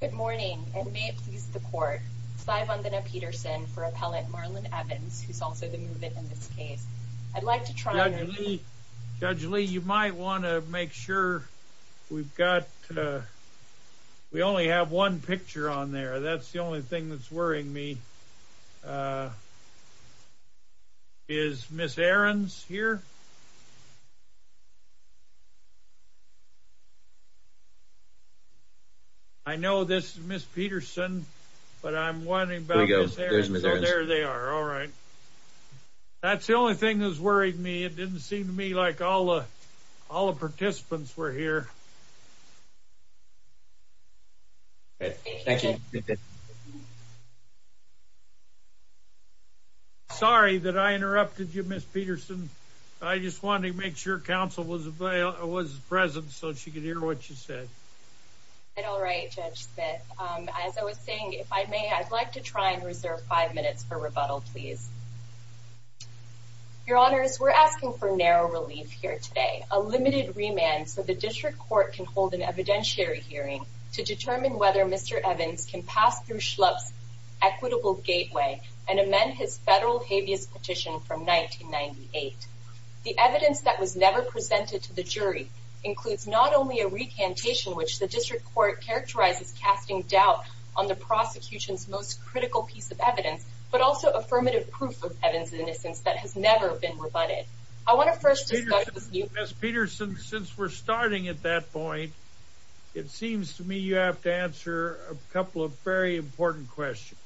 Good morning, and may it please the court, Sly Vondana Peterson for appellate Marlon Evans, who's also the movement in this case. I'd like to try Judge Lee, you might want to make sure we've got, we only have one picture on there. That's the only thing that's worrying me. Is Ms. Aarons here? I know this is Ms. Peterson, but I'm wondering about Ms. Aarons. There they are, all right. That's the only thing that's worrying me. It didn't seem to me like all the participants were here. Thank you. Sorry that I interrupted you, Ms. Peterson. I just wanted to make sure counsel was present so she could hear what you said. All right, Judge Smith. As I was saying, if I may, I'd like to try and reserve five minutes for rebuttal, please. Your Honors, we're asking for narrow relief here today, a limited remand so the district court can hold an evidentiary hearing to determine whether Mr. Evans can pass through Schlup's equitable gateway and amend his federal habeas petition from 1998. The evidence that was never presented to the jury includes not only a recantation, which the district court characterizes casting doubt on the prosecution's most critical piece of evidence, but also affirmative proof of Evans' innocence that has never been rebutted. I want to first discuss Ms. Peterson. Since we're starting at that point, it seems to me you have to answer a couple of very important questions.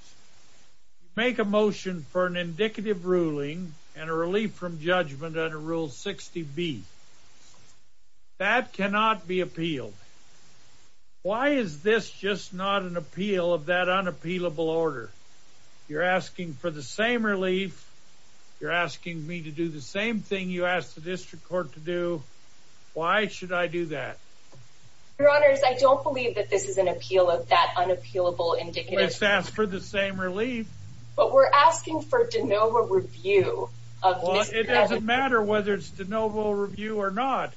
You make a motion for an indicative ruling and a relief from judgment under Rule 60B. That cannot be appealed. Why is this just not an appeal of that unappealable order? You're asking for the same relief. You're asking me to do the same thing you asked the district court to do. Why should I do that? Your Honors, I don't believe that this is an appeal of that unappealable indicative. Let's ask for the same relief. But we're asking for de novo review. Well, it doesn't matter whether it's de novo review or not.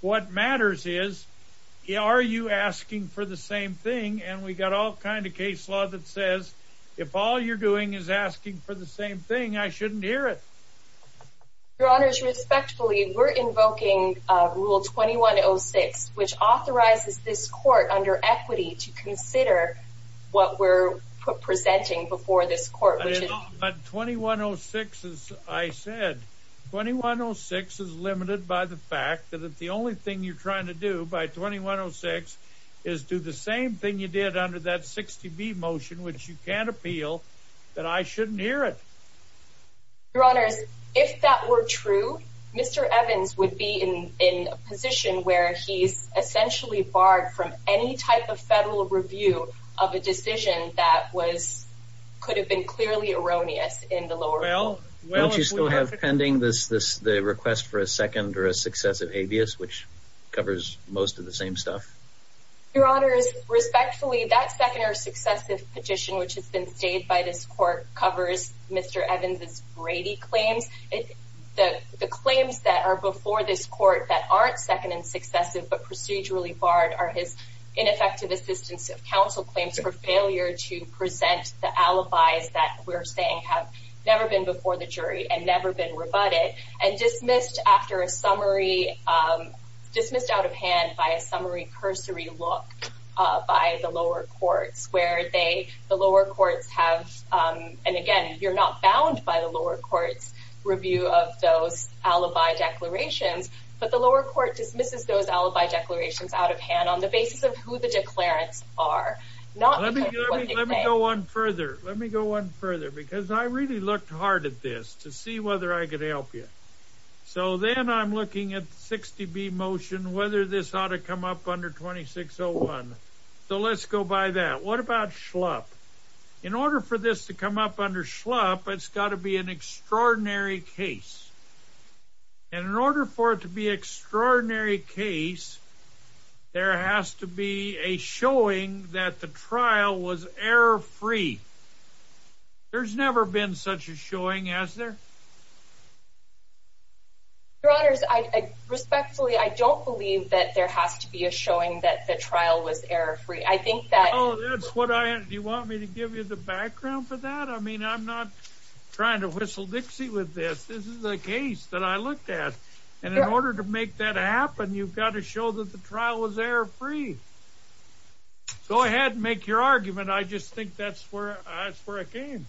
What matters is, are you asking for the same thing? And we've got all kinds of case law that says, if all you're doing is asking for the same thing, I shouldn't hear it. Your Honors, respectfully, we're invoking Rule 2106, which authorizes this court under equity to consider what we're presenting before this court. But 2106, as I said, 2106 is limited by the fact that the only thing you're trying to do by 2106 is do the same thing you did under that 60B motion, which you can't appeal, that I shouldn't hear it. Your Honors, if that were true, Mr. Evans would be in a position where he's essentially barred from any type of federal review of a decision that could have been clearly erroneous in the lower court. Don't you still have pending the request for a second or a successive habeas, which covers most of the same stuff? Your Honors, respectfully, that second or successive petition, which has been stayed by this court, covers Mr. Evans' Brady claims. The claims that are before this court that aren't second and successive but procedurally barred are his ineffective assistance of counsel claims for failure to present the alibis that we're saying have never been before the jury and never been rebutted. And dismissed after a summary, dismissed out of hand by a summary cursory look by the lower courts where they, the lower courts have, and again, you're not bound by the lower courts review of those alibi declarations, but the lower court dismisses those alibi declarations out of hand on the basis of who the declarants are. Let me go one further. Let me go one further because I really looked hard at this to see whether I could help you. So then I'm looking at the 60B motion, whether this ought to come up under 2601. So let's go by that. What about Schlupp? In order for this to come up under Schlupp, it's got to be an extraordinary case. And in order for it to be an extraordinary case, there has to be a showing that the trial was error-free. There's never been such a showing, has there? Your Honors, respectfully, I don't believe that there has to be a showing that the trial was error-free. I think that... Oh, that's what I... Do you want me to give you the background for that? I mean, I'm not trying to whistle Dixie with this. This is a case that I looked at. And in order to make that happen, you've got to show that the trial was error-free. Go ahead and make your argument. I just think that's where I came.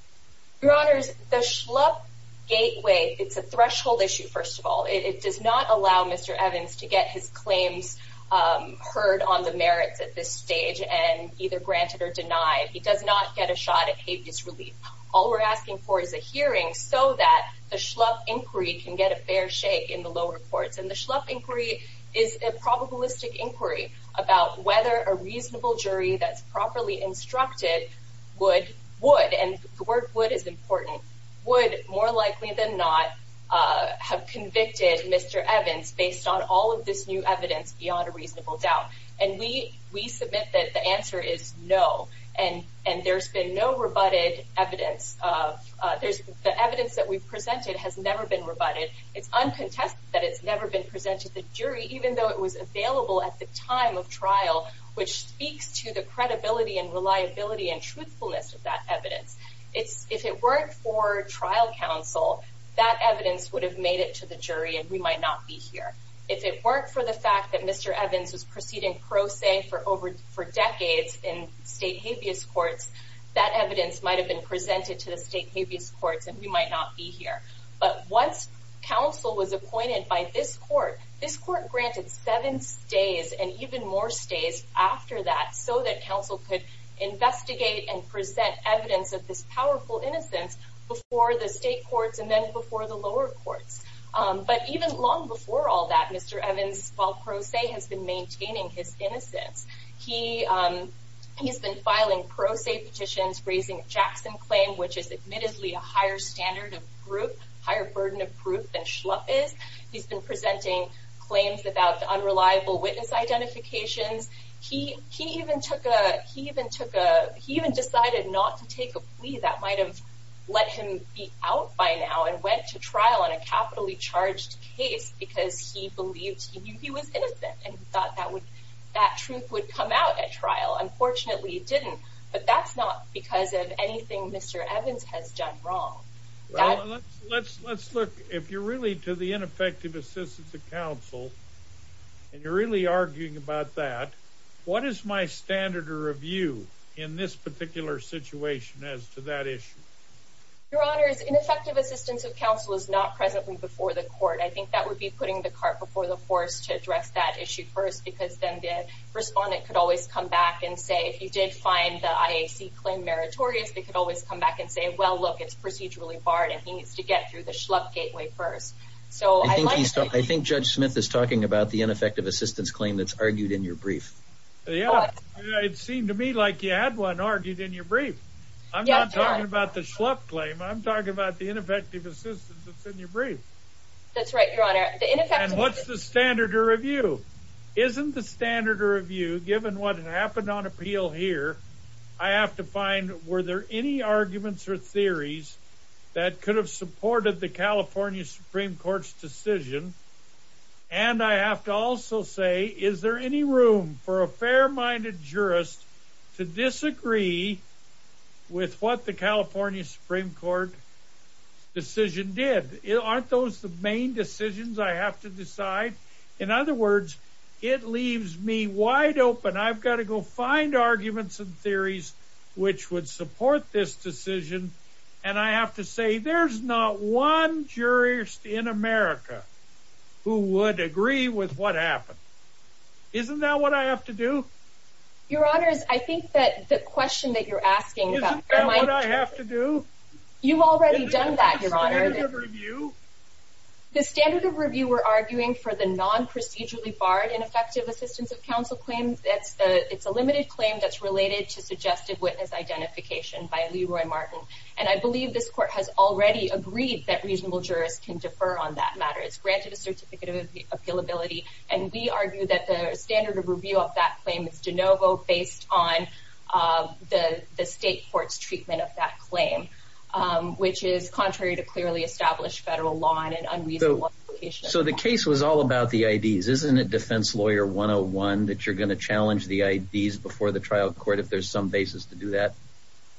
Your Honors, the Schlupp gateway, it's a threshold issue, first of all. It does not allow Mr. Evans to get his claims heard on the merits at this stage and either granted or denied. It does not get a shot at habeas relief. All we're asking for is a hearing so that the Schlupp inquiry can get a fair shake in the lower courts. And the Schlupp inquiry is a probabilistic inquiry about whether a reasonable jury that's properly instructed would, and the word would is important, would more likely than not have convicted Mr. Evans based on all of this new evidence beyond a reasonable doubt. And we submit that the answer is no, and there's been no rebutted evidence. The evidence that we've presented has never been rebutted. It's uncontested that it's never been presented to the jury, even though it was available at the time of trial, which speaks to the credibility and reliability and truthfulness of that evidence. If it weren't for trial counsel, that evidence would have made it to the jury, and we might not be here. If it weren't for the fact that Mr. Evans was proceeding pro se for decades in state habeas courts, that evidence might have been presented to the state habeas courts, and we might not be here. But once counsel was appointed by this court, this court granted seven stays and even more stays after that, so that counsel could investigate and present evidence of this powerful innocence before the state courts and then before the lower courts. But even long before all that, Mr. Evans, while pro se, has been maintaining his innocence. He's been filing pro se petitions, raising a Jackson claim, which is admittedly a higher standard of proof, higher burden of proof than Schlupp is. He's been presenting claims about unreliable witness identifications. He even decided not to take a plea that might have let him be out by now and went to trial on a capitally charged case because he believed he was innocent and thought that truth would come out at trial. Unfortunately, it didn't, but that's not because of anything Mr. Evans has done wrong. Let's look, if you're really to the ineffective assistance of counsel, and you're really arguing about that, what is my standard of review in this particular situation as to that issue? Your Honor, ineffective assistance of counsel is not presently before the court. I think that would be putting the cart before the horse to address that issue first, because then the respondent could always come back and say, if you did find the IAC claim meritorious, they could always come back and say, well, look, it's procedurally barred, and he needs to get through the Schlupp gateway first. I think Judge Smith is talking about the ineffective assistance claim that's argued in your brief. Yeah, it seemed to me like you had one argued in your brief. I'm not talking about the Schlupp claim. I'm talking about the ineffective assistance that's in your brief. That's right, Your Honor. And what's the standard of review? Isn't the standard of review, given what had happened on appeal here, I have to find, were there any arguments or theories that could have supported the California Supreme Court's decision? And I have to also say, is there any room for a fair-minded jurist to disagree with what the California Supreme Court decision did? Aren't those the main decisions I have to decide? In other words, it leaves me wide open. I've got to go find arguments and theories which would support this decision, and I have to say, there's not one jurist in America who would agree with what happened. Isn't that what I have to do? Your Honors, I think that the question that you're asking about fair-minded… Isn't that what I have to do? You've already done that, Your Honor. Isn't that the standard of review? We were arguing for the non-procedurally barred and effective assistance of counsel claim. It's a limited claim that's related to suggested witness identification by Leroy Martin. And I believe this Court has already agreed that reasonable jurists can defer on that matter. It's granted a certificate of appealability, and we argue that the standard of review of that claim is de novo based on the state court's treatment of that claim, which is contrary to clearly established federal law and an unreasonable application. So the case was all about the IDs. Isn't it defense lawyer 101 that you're going to challenge the IDs before the trial court if there's some basis to do that?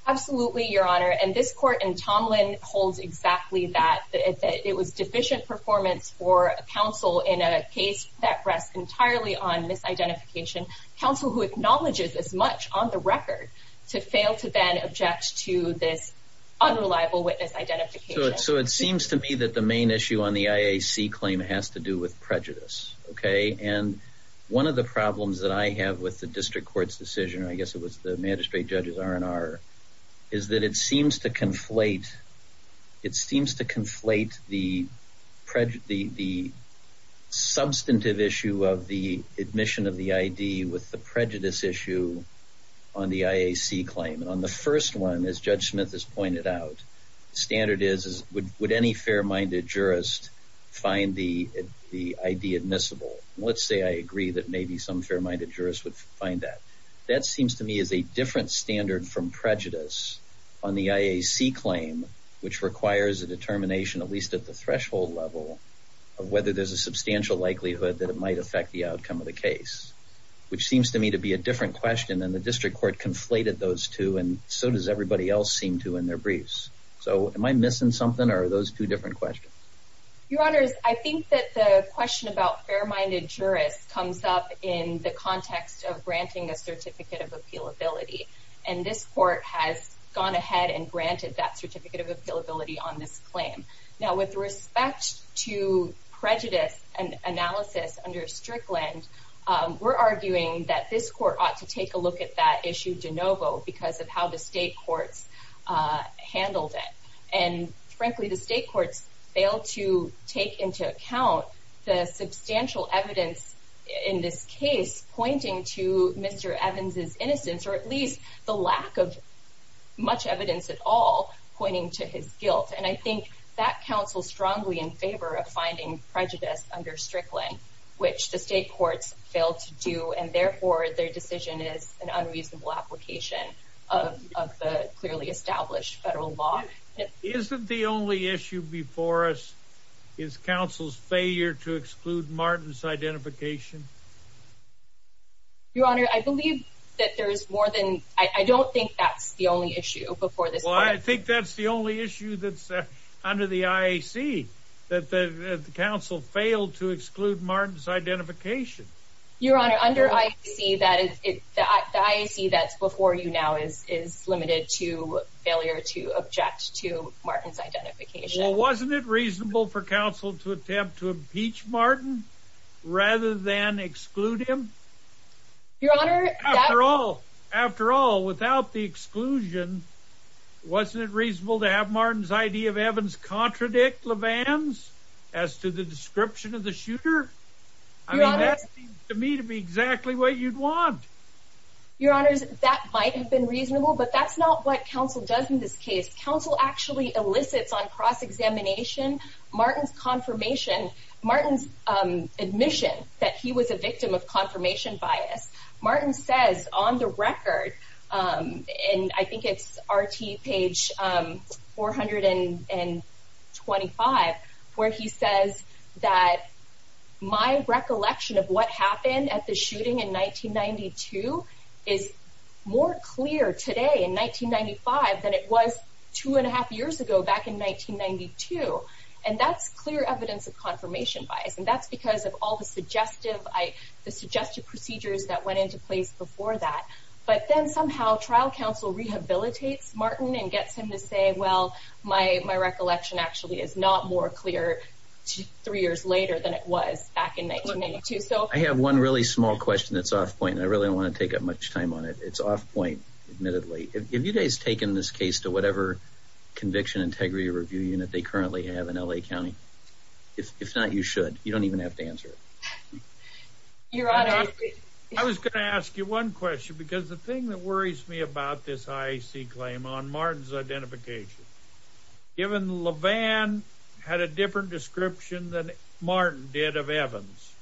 Absolutely, Your Honor. And this Court in Tomlin holds exactly that. It was deficient performance for counsel in a case that rests entirely on misidentification. Counsel who acknowledges as much on the record to fail to then object to this unreliable witness identification. So it seems to me that the main issue on the IAC claim has to do with prejudice, okay? And one of the problems that I have with the district court's decision, I guess it was the magistrate judge's R&R, is that it seems to conflate the substantive issue of the admission of the ID with the prejudice issue on the IAC claim. And on the first one, as Judge Smith has pointed out, the standard is would any fair-minded jurist find the ID admissible? Let's say I agree that maybe some fair-minded jurist would find that. That seems to me is a different standard from prejudice on the IAC claim, which requires a determination, at least at the threshold level, of whether there's a substantial likelihood that it might affect the outcome of the case. Which seems to me to be a different question, and the district court conflated those two, and so does everybody else seem to in their briefs. So am I missing something, or are those two different questions? Your Honors, I think that the question about fair-minded jurists comes up in the context of granting a certificate of appealability. And this court has gone ahead and granted that certificate of appealability on this claim. Now, with respect to prejudice analysis under Strickland, we're arguing that this court ought to take a look at that issue de novo because of how the state courts handled it. And frankly, the state courts failed to take into account the substantial evidence in this case pointing to Mr. Evans' innocence, or at least the lack of much evidence at all pointing to his guilt. And I think that counsel's strongly in favor of finding prejudice under Strickland, which the state courts failed to do, and therefore their decision is an unreasonable application of the clearly established federal law. Isn't the only issue before us is counsel's failure to exclude Martin's identification? Your Honor, I don't think that's the only issue before this court. Well, I think that's the only issue that's under the IAC, that the counsel failed to exclude Martin's identification. Your Honor, under IAC, the IAC that's before you now is limited to failure to object to Martin's identification. Well, wasn't it reasonable for counsel to attempt to impeach Martin rather than exclude him? Your Honor, that's... After all, after all, without the exclusion, wasn't it reasonable to have Martin's ID of Evans contradict Levan's as to the description of the shooter? I mean, that seems to me to be exactly what you'd want. Your Honor, that might have been reasonable, but that's not what counsel does in this case. Counsel actually elicits on cross-examination Martin's confirmation, Martin's admission that he was a victim of confirmation bias. Martin says on the record, and I think it's RT page 425, where he says that my recollection of what happened at the shooting in 1992 is more clear today in 1995 than it was two and a half years ago back in 1992. And that's clear evidence of confirmation bias, and that's because of all the suggestive procedures that went into place before that. But then somehow trial counsel rehabilitates Martin and gets him to say, well, my recollection actually is not more clear three years later than it was back in 1992. I have one really small question that's off point, and I really don't want to take up much time on it. It's off point, admittedly. Have you guys taken this case to whatever conviction integrity review unit they currently have in L.A. County? If not, you should. You don't even have to answer it. Your Honor... I was going to ask you one question, because the thing that worries me about this IAC claim on Martin's identification, given LeVan had a different description than Martin did of Evans,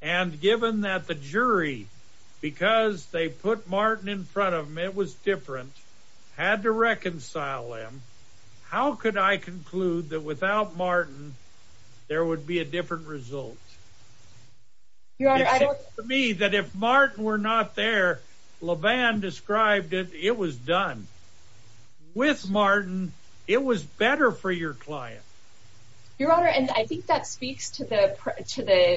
and given that the jury, because they put Martin in front of him, it was different, had to reconcile him, how could I conclude that without Martin there would be a different result? Your Honor, I don't... It seems to me that if Martin were not there, LeVan described it, it was done. With Martin, it was better for your client. Your Honor, and I think that speaks to the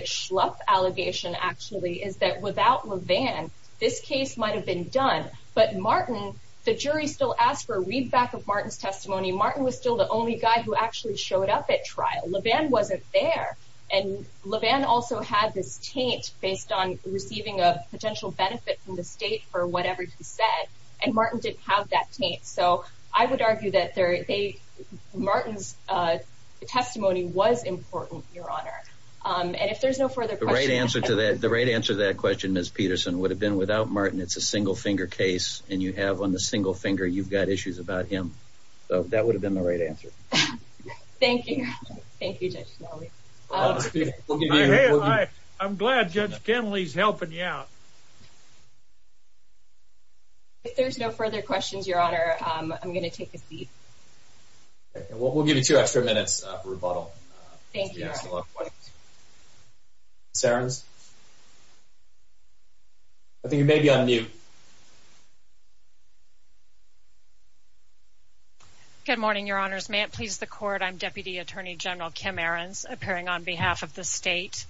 Schlupf allegation, actually, is that without LeVan, this case might have been done. But Martin, the jury still asked for a readback of Martin's testimony. Martin was still the only guy who actually showed up at trial. LeVan wasn't there, and LeVan also had this taint based on receiving a potential benefit from the state for whatever he said, and Martin didn't have that taint. So I would argue that Martin's testimony was important, Your Honor. And if there's no further questions... The right answer to that question, Ms. Peterson, would have been without Martin. It's a single-finger case, and you have on the single finger, you've got issues about him. So that would have been the right answer. Thank you. Thank you, Judge Kenley. I'm glad Judge Kenley's helping you out. If there's no further questions, Your Honor, I'm going to take a seat. We'll give you two extra minutes for rebuttal. Thank you, Your Honor. I think you may be on mute. Thank you. Good morning, Your Honors. May it please the Court, I'm Deputy Attorney General Kim Ahrens, appearing on behalf of the state.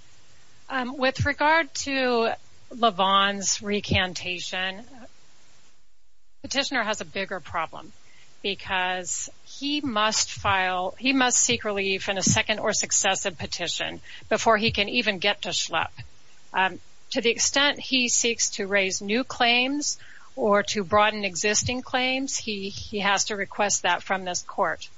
With regard to LeVan's recantation, the petitioner has a bigger problem because he must seek relief in a second or successive petition before he can even get to Schlepp. To the extent he seeks to raise new claims or to broaden existing claims, he has to request that from this Court.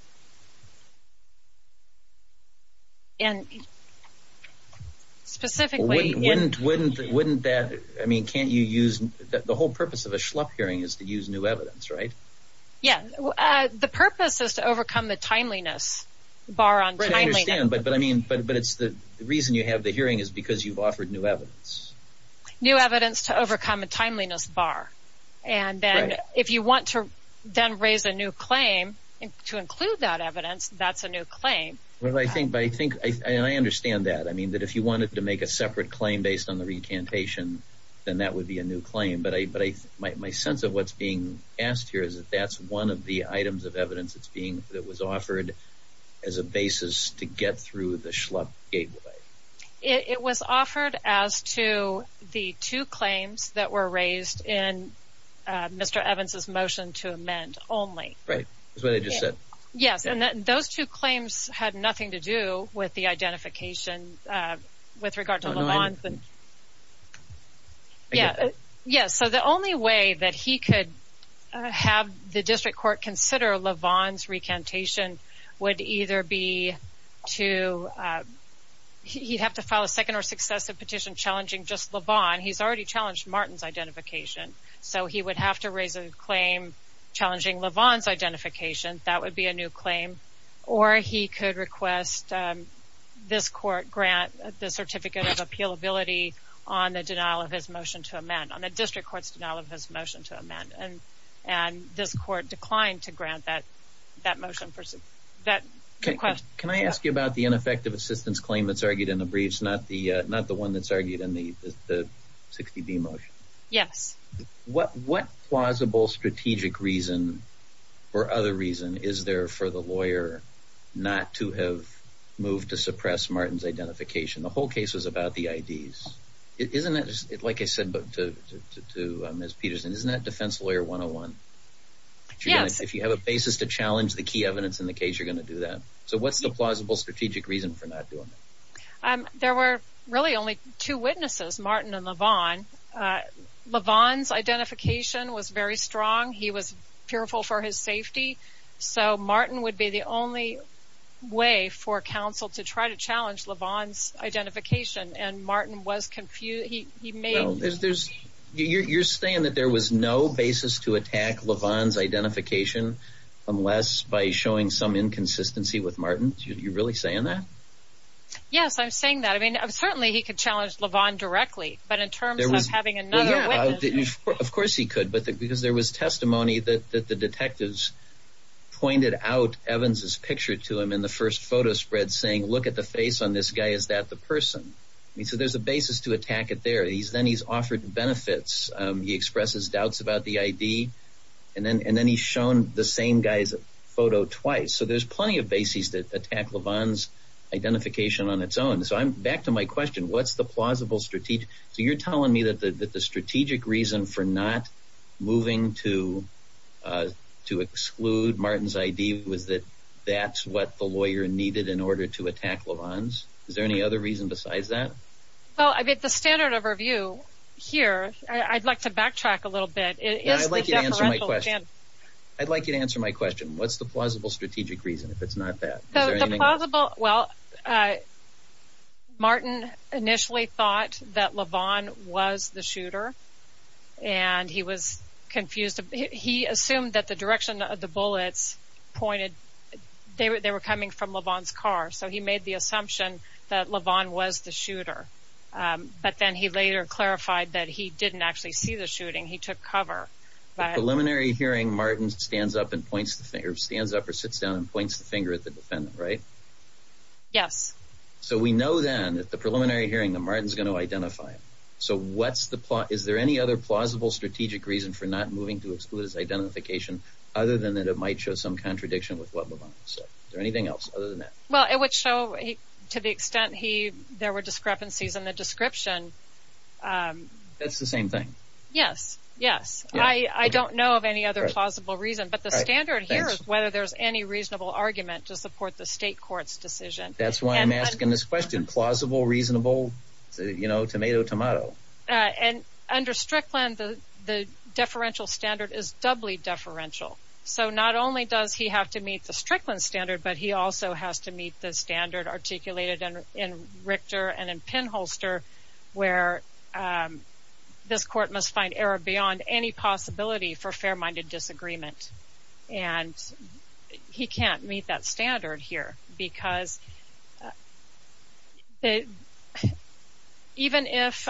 Specifically... Wouldn't that... I mean, can't you use... The whole purpose of a Schlepp hearing is to use new evidence, right? Yeah. The purpose is to overcome the timeliness, the bar on timeliness. I understand, but I mean, but it's the reason you have the hearing is because you've offered new evidence. New evidence to overcome a timeliness bar. And then if you want to then raise a new claim, to include that evidence, that's a new claim. Well, I think, and I understand that. I mean, that if you wanted to make a separate claim based on the recantation, then that would be a new claim. But my sense of what's being asked here is that that's one of the items of evidence that was offered as a basis to get through the Schlepp gateway. It was offered as to the two claims that were raised in Mr. Evans' motion to amend only. Right. That's what they just said. Yes, and those two claims had nothing to do with the identification with regard to Levon's. Yeah, so the only way that he could have the District Court consider Levon's recantation would either be to, he'd have to file a second or successive petition challenging just Levon. He's already challenged Martin's identification. So he would have to raise a claim challenging Levon's identification. That would be a new claim. Or he could request this court grant the certificate of appealability on the denial of his motion to amend, on the District Court's denial of his motion to amend. And this court declined to grant that motion. Can I ask you about the ineffective assistance claim that's argued in the briefs, not the one that's argued in the 60D motion? Yes. What plausible strategic reason or other reason is there for the lawyer not to have moved to suppress Martin's identification? The whole case was about the IDs. Like I said to Ms. Peterson, isn't that Defense Lawyer 101? Yes. If you have a basis to challenge the key evidence in the case, you're going to do that. So what's the plausible strategic reason for not doing that? There were really only two witnesses, Martin and Levon. Levon's identification was very strong. He was fearful for his safety. And Martin was confused. You're saying that there was no basis to attack Levon's identification unless by showing some inconsistency with Martin? Are you really saying that? Yes, I'm saying that. I mean, certainly he could challenge Levon directly, but in terms of having another witness. Of course he could, because there was testimony that the detectives pointed out Evans' picture to him in the first photo spread saying, look at the face on this guy. Is that the person? So there's a basis to attack it there. Then he's offered benefits. He expresses doubts about the ID. And then he's shown the same guy's photo twice. So there's plenty of basis to attack Levon's identification on its own. So back to my question, what's the plausible strategic? So you're telling me that the strategic reason for not moving to exclude Martin's ID was that that's what the lawyer needed in order to attack Levon's? Is there any other reason besides that? Well, the standard of review here, I'd like to backtrack a little bit. I'd like you to answer my question. What's the plausible strategic reason if it's not that? Well, Martin initially thought that Levon was the shooter, and he was confused. He assumed that the direction of the bullets pointed, they were coming from Levon's car. So he made the assumption that Levon was the shooter. But then he later clarified that he didn't actually see the shooting. He took cover. The preliminary hearing, Martin stands up or sits down and points the finger at the defendant, right? Yes. So we know then at the preliminary hearing that Martin's going to identify him. So is there any other plausible strategic reason for not moving to exclude his identification other than that it might show some contradiction with what Levon said? Is there anything else other than that? Well, it would show to the extent there were discrepancies in the description. That's the same thing. Yes, yes. I don't know of any other plausible reason, but the standard here is whether there's any reasonable argument to support the state court's decision. That's why I'm asking this question, plausible, reasonable, you know, tomato, tomato. And under Strickland, the deferential standard is doubly deferential. So not only does he have to meet the Strickland standard, but he also has to meet the standard articulated in Richter and in Penholster where this court must find error beyond any possibility for fair-minded disagreement. And he can't meet that standard here because even if,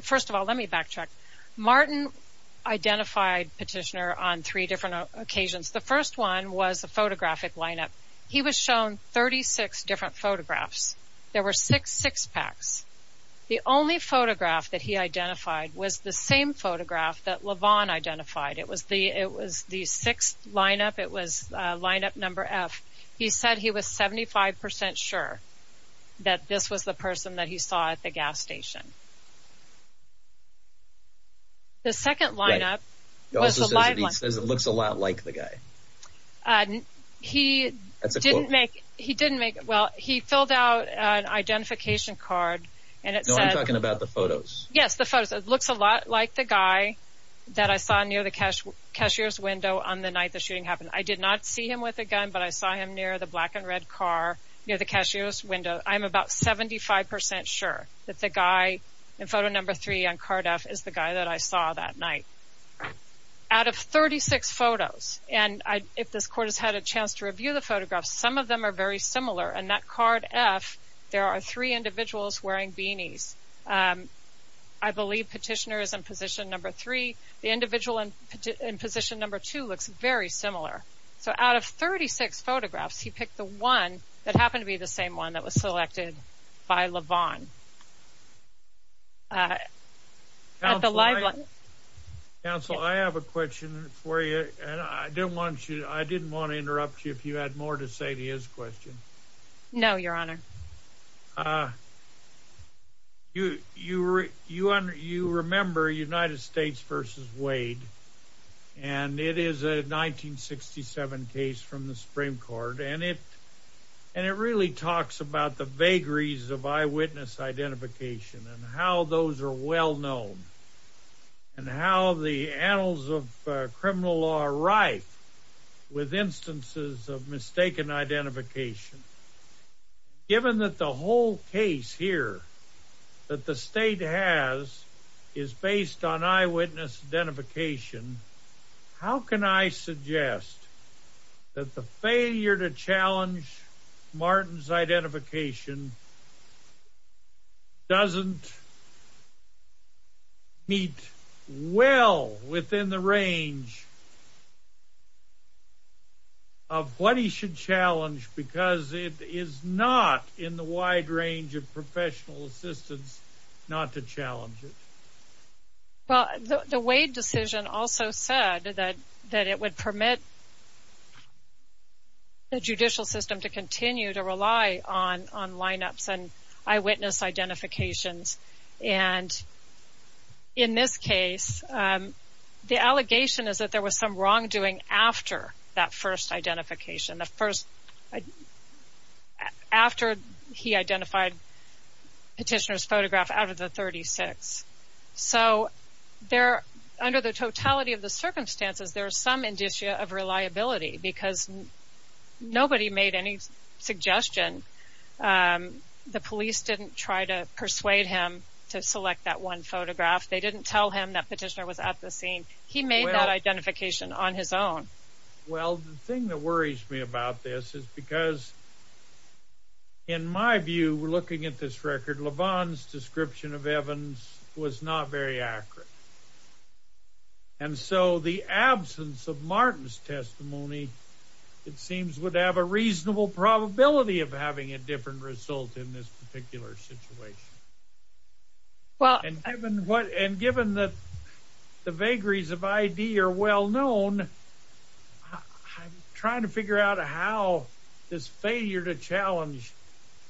first of all, let me backtrack. Martin identified Petitioner on three different occasions. The first one was a photographic lineup. He was shown 36 different photographs. There were six six-packs. The only photograph that he identified was the same photograph that LeVon identified. It was the sixth lineup. It was lineup number F. He said he was 75 percent sure that this was the person that he saw at the gas station. The second lineup was a live one. He also says it looks a lot like the guy. That's a quote. Well, he filled out an identification card. No, I'm talking about the photos. Yes, the photos. It looks a lot like the guy that I saw near the cashier's window on the night the shooting happened. I did not see him with a gun, but I saw him near the black and red car near the cashier's window. I'm about 75 percent sure that the guy in photo number three on Cardiff is the guy that I saw that night. Out of 36 photos, and if this court has had a chance to review the photographs, some of them are very similar, and that Card F, there are three individuals wearing beanies. I believe Petitioner is in position number three. The individual in position number two looks very similar. So out of 36 photographs, he picked the one that happened to be the same one that was selected by LeVon. Counsel, I have a question for you, and I didn't want to interrupt you if you had more to say to his question. No, Your Honor. You remember United States v. Wade, and it is a 1967 case from the Supreme Court, and it really talks about the vagaries of eyewitness identification and how those are well known and how the annals of criminal law are rife with instances of mistaken identification. Given that the whole case here that the state has is based on eyewitness identification, how can I suggest that the failure to challenge Martin's identification doesn't meet well within the range of what he should challenge because it is not in the wide range of professional assistance not to challenge it? Well, the Wade decision also said that it would permit the judicial system to continue to rely on lineups and eyewitness identifications. And in this case, the allegation is that there was some wrongdoing after that first identification, after he identified Petitioner's photograph out of the 36. So under the totality of the circumstances, there is some indicia of reliability because nobody made any suggestion. The police didn't try to persuade him to select that one photograph. They didn't tell him that Petitioner was at the scene. He made that identification on his own. Well, the thing that worries me about this is because in my view, we're looking at this record, Lavon's description of Evans was not very accurate. And so the absence of Martin's testimony, it seems, would have a reasonable probability of having a different result in this particular situation. And given that the vagaries of ID are well known, I'm trying to figure out how this failure to challenge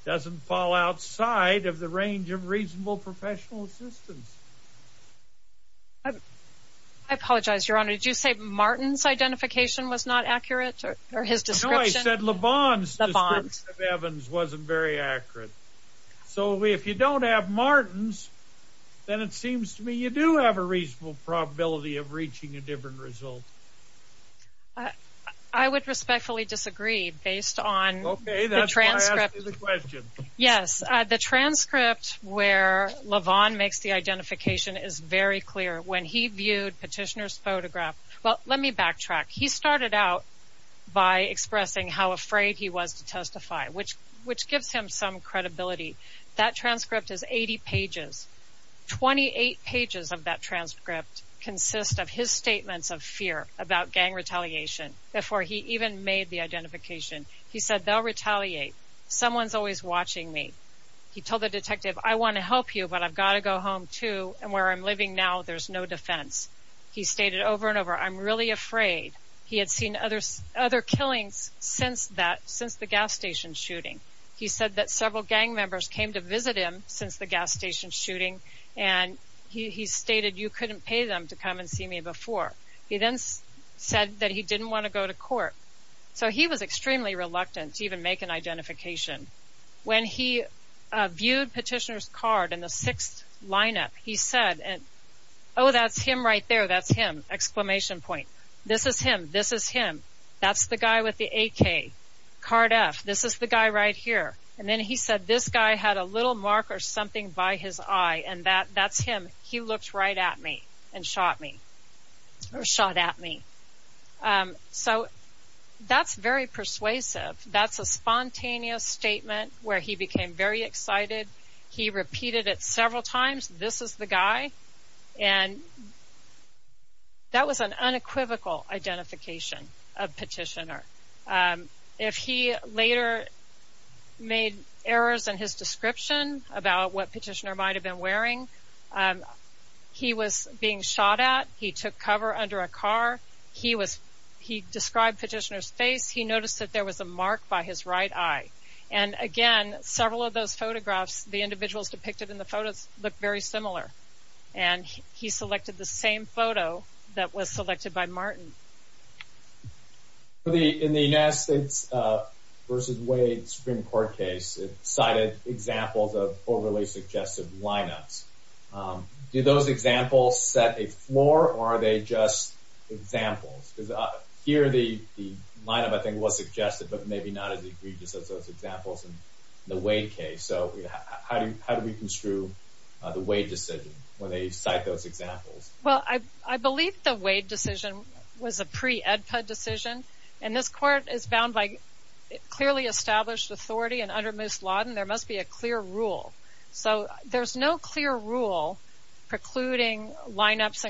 doesn't fall outside of the range of reasonable professional assistance. I apologize, Your Honor. Did you say Martin's identification was not accurate or his description? No, I said Lavon's description of Evans wasn't very accurate. So if you don't have Martin's, then it seems to me you do have a reasonable probability of reaching a different result. I would respectfully disagree based on the transcript. Yes, the transcript where Lavon makes the identification is very clear. When he viewed Petitioner's photograph, well, let me backtrack. He started out by expressing how afraid he was to testify, which gives him some credibility. That transcript is 80 pages. 28 pages of that transcript consist of his statements of fear about gang retaliation before he even made the identification. He said, they'll retaliate. Someone's always watching me. He told the detective, I want to help you, but I've got to go home, too. And where I'm living now, there's no defense. He stated over and over, I'm really afraid. He had seen other killings since the gas station shooting. He said that several gang members came to visit him since the gas station shooting, and he stated you couldn't pay them to come and see me before. He then said that he didn't want to go to court. So he was extremely reluctant to even make an identification. When he viewed Petitioner's card in the sixth lineup, he said, oh, that's him right there. That's him, exclamation point. This is him. This is him. That's the guy with the AK. Card F. This is the guy right here. And then he said this guy had a little mark or something by his eye, and that's him. He looked right at me and shot me. Or shot at me. So that's very persuasive. That's a spontaneous statement where he became very excited. He repeated it several times. This is the guy. And that was an unequivocal identification of Petitioner. If he later made errors in his description about what Petitioner might have been wearing, he was being shot at. He described Petitioner's face. He noticed that there was a mark by his right eye. And, again, several of those photographs, the individuals depicted in the photos, look very similar. And he selected the same photo that was selected by Martin. In the Ness versus Wade Supreme Court case, it cited examples of overly suggestive lineups. Do those examples set a floor, or are they just examples? Because here the lineup, I think, was suggestive, but maybe not as egregious as those examples in the Wade case. So how do we construe the Wade decision when they cite those examples? Well, I believe the Wade decision was a pre-AEDPA decision. And this Court is bound by clearly established authority. And under Moose Lawton, there must be a clear rule. So there's no clear rule precluding lineups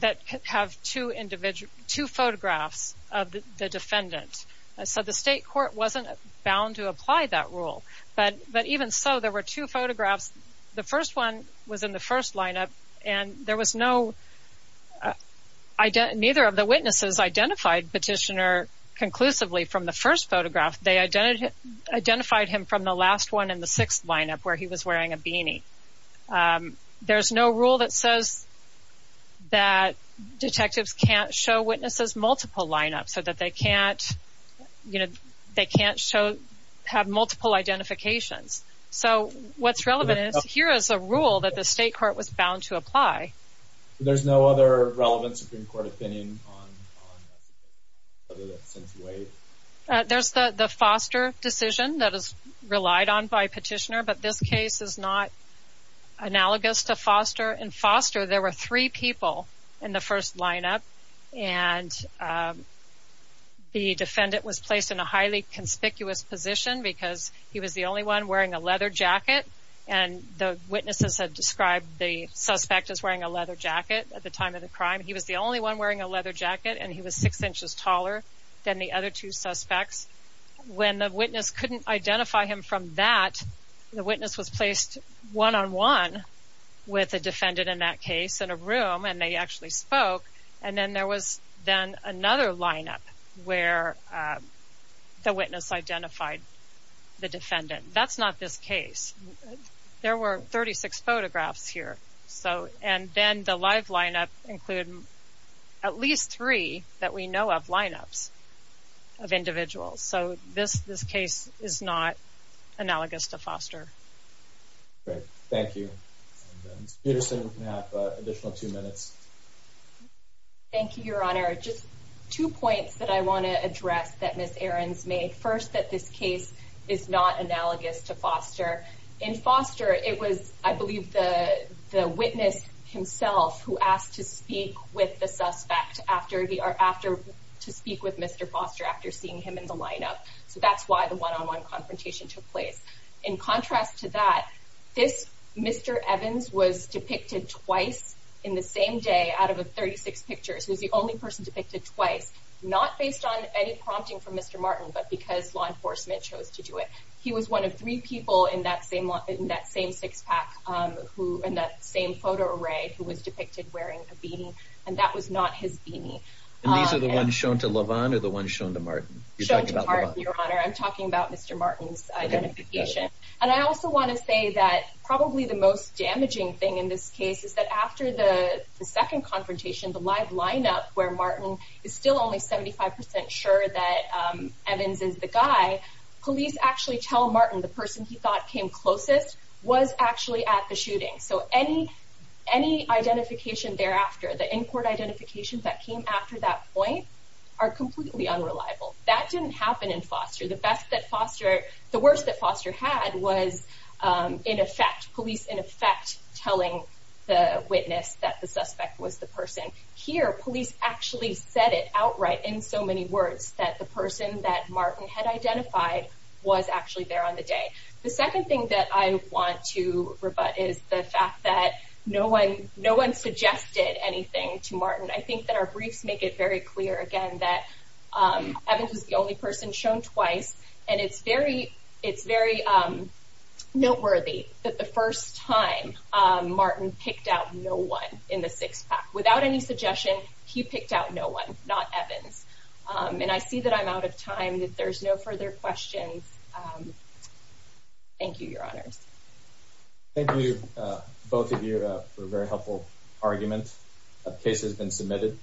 that have two photographs of the defendant. So the State Court wasn't bound to apply that rule. But even so, there were two photographs. The first one was in the first lineup, and there was no – neither of the witnesses identified Petitioner conclusively from the first photograph. They identified him from the last one in the sixth lineup, where he was wearing a beanie. There's no rule that says that detectives can't show witnesses multiple lineups, so that they can't, you know, they can't show – have multiple identifications. So what's relevant is here is a rule that the State Court was bound to apply. There's no other relevant Supreme Court opinion on – other than since Wade? There's the Foster decision that is relied on by Petitioner, but this case is not analogous to Foster. In Foster, there were three people in the first lineup, and the defendant was placed in a highly conspicuous position because he was the only one wearing a leather jacket. And the witnesses had described the suspect as wearing a leather jacket at the time of the crime. He was the only one wearing a leather jacket, and he was six inches taller than the other two suspects. When the witness couldn't identify him from that, the witness was placed one-on-one with a defendant in that case in a room, and they actually spoke, and then there was then another lineup where the witness identified the defendant. That's not this case. There were 36 photographs here. And then the live lineup included at least three that we know of lineups of individuals. So this case is not analogous to Foster. Great. Thank you. Ms. Peterson, you have an additional two minutes. Thank you, Your Honor. Just two points that I want to address that Ms. Ahrens made. First, that this case is not analogous to Foster. In Foster, it was, I believe, the witness himself who asked to speak with the suspect after to speak with Mr. Foster after seeing him in the lineup. So that's why the one-on-one confrontation took place. In contrast to that, this Mr. Evans was depicted twice in the same day out of the 36 pictures. He was the only person depicted twice, not based on any prompting from Mr. Martin, but because law enforcement chose to do it. He was one of three people in that same six-pack, in that same photo array, who was depicted wearing a beanie, and that was not his beanie. And these are the ones shown to LaVon or the ones shown to Martin? Shown to Martin, Your Honor. I'm talking about Mr. Martin's identification. And I also want to say that probably the most damaging thing in this case is that after the second confrontation, the live lineup, where Martin is still only 75% sure that Evans is the guy, police actually tell Martin the person he thought came closest was actually at the shooting. So any identification thereafter, the in-court identification that came after that point, are completely unreliable. That didn't happen in Foster. The worst that Foster had was police in effect telling the witness that the suspect was the person. Here, police actually said it outright in so many words, that the person that Martin had identified was actually there on the day. The second thing that I want to rebut is the fact that no one suggested anything to Martin. I think that our briefs make it very clear, again, that Evans was the only person shown twice. And it's very noteworthy that the first time Martin picked out no one in the six-pack. Without any suggestion, he picked out no one, not Evans. And I see that I'm out of time, that there's no further questions. Thank you, Your Honors. Thank you, both of you, for a very helpful argument. The case has been submitted.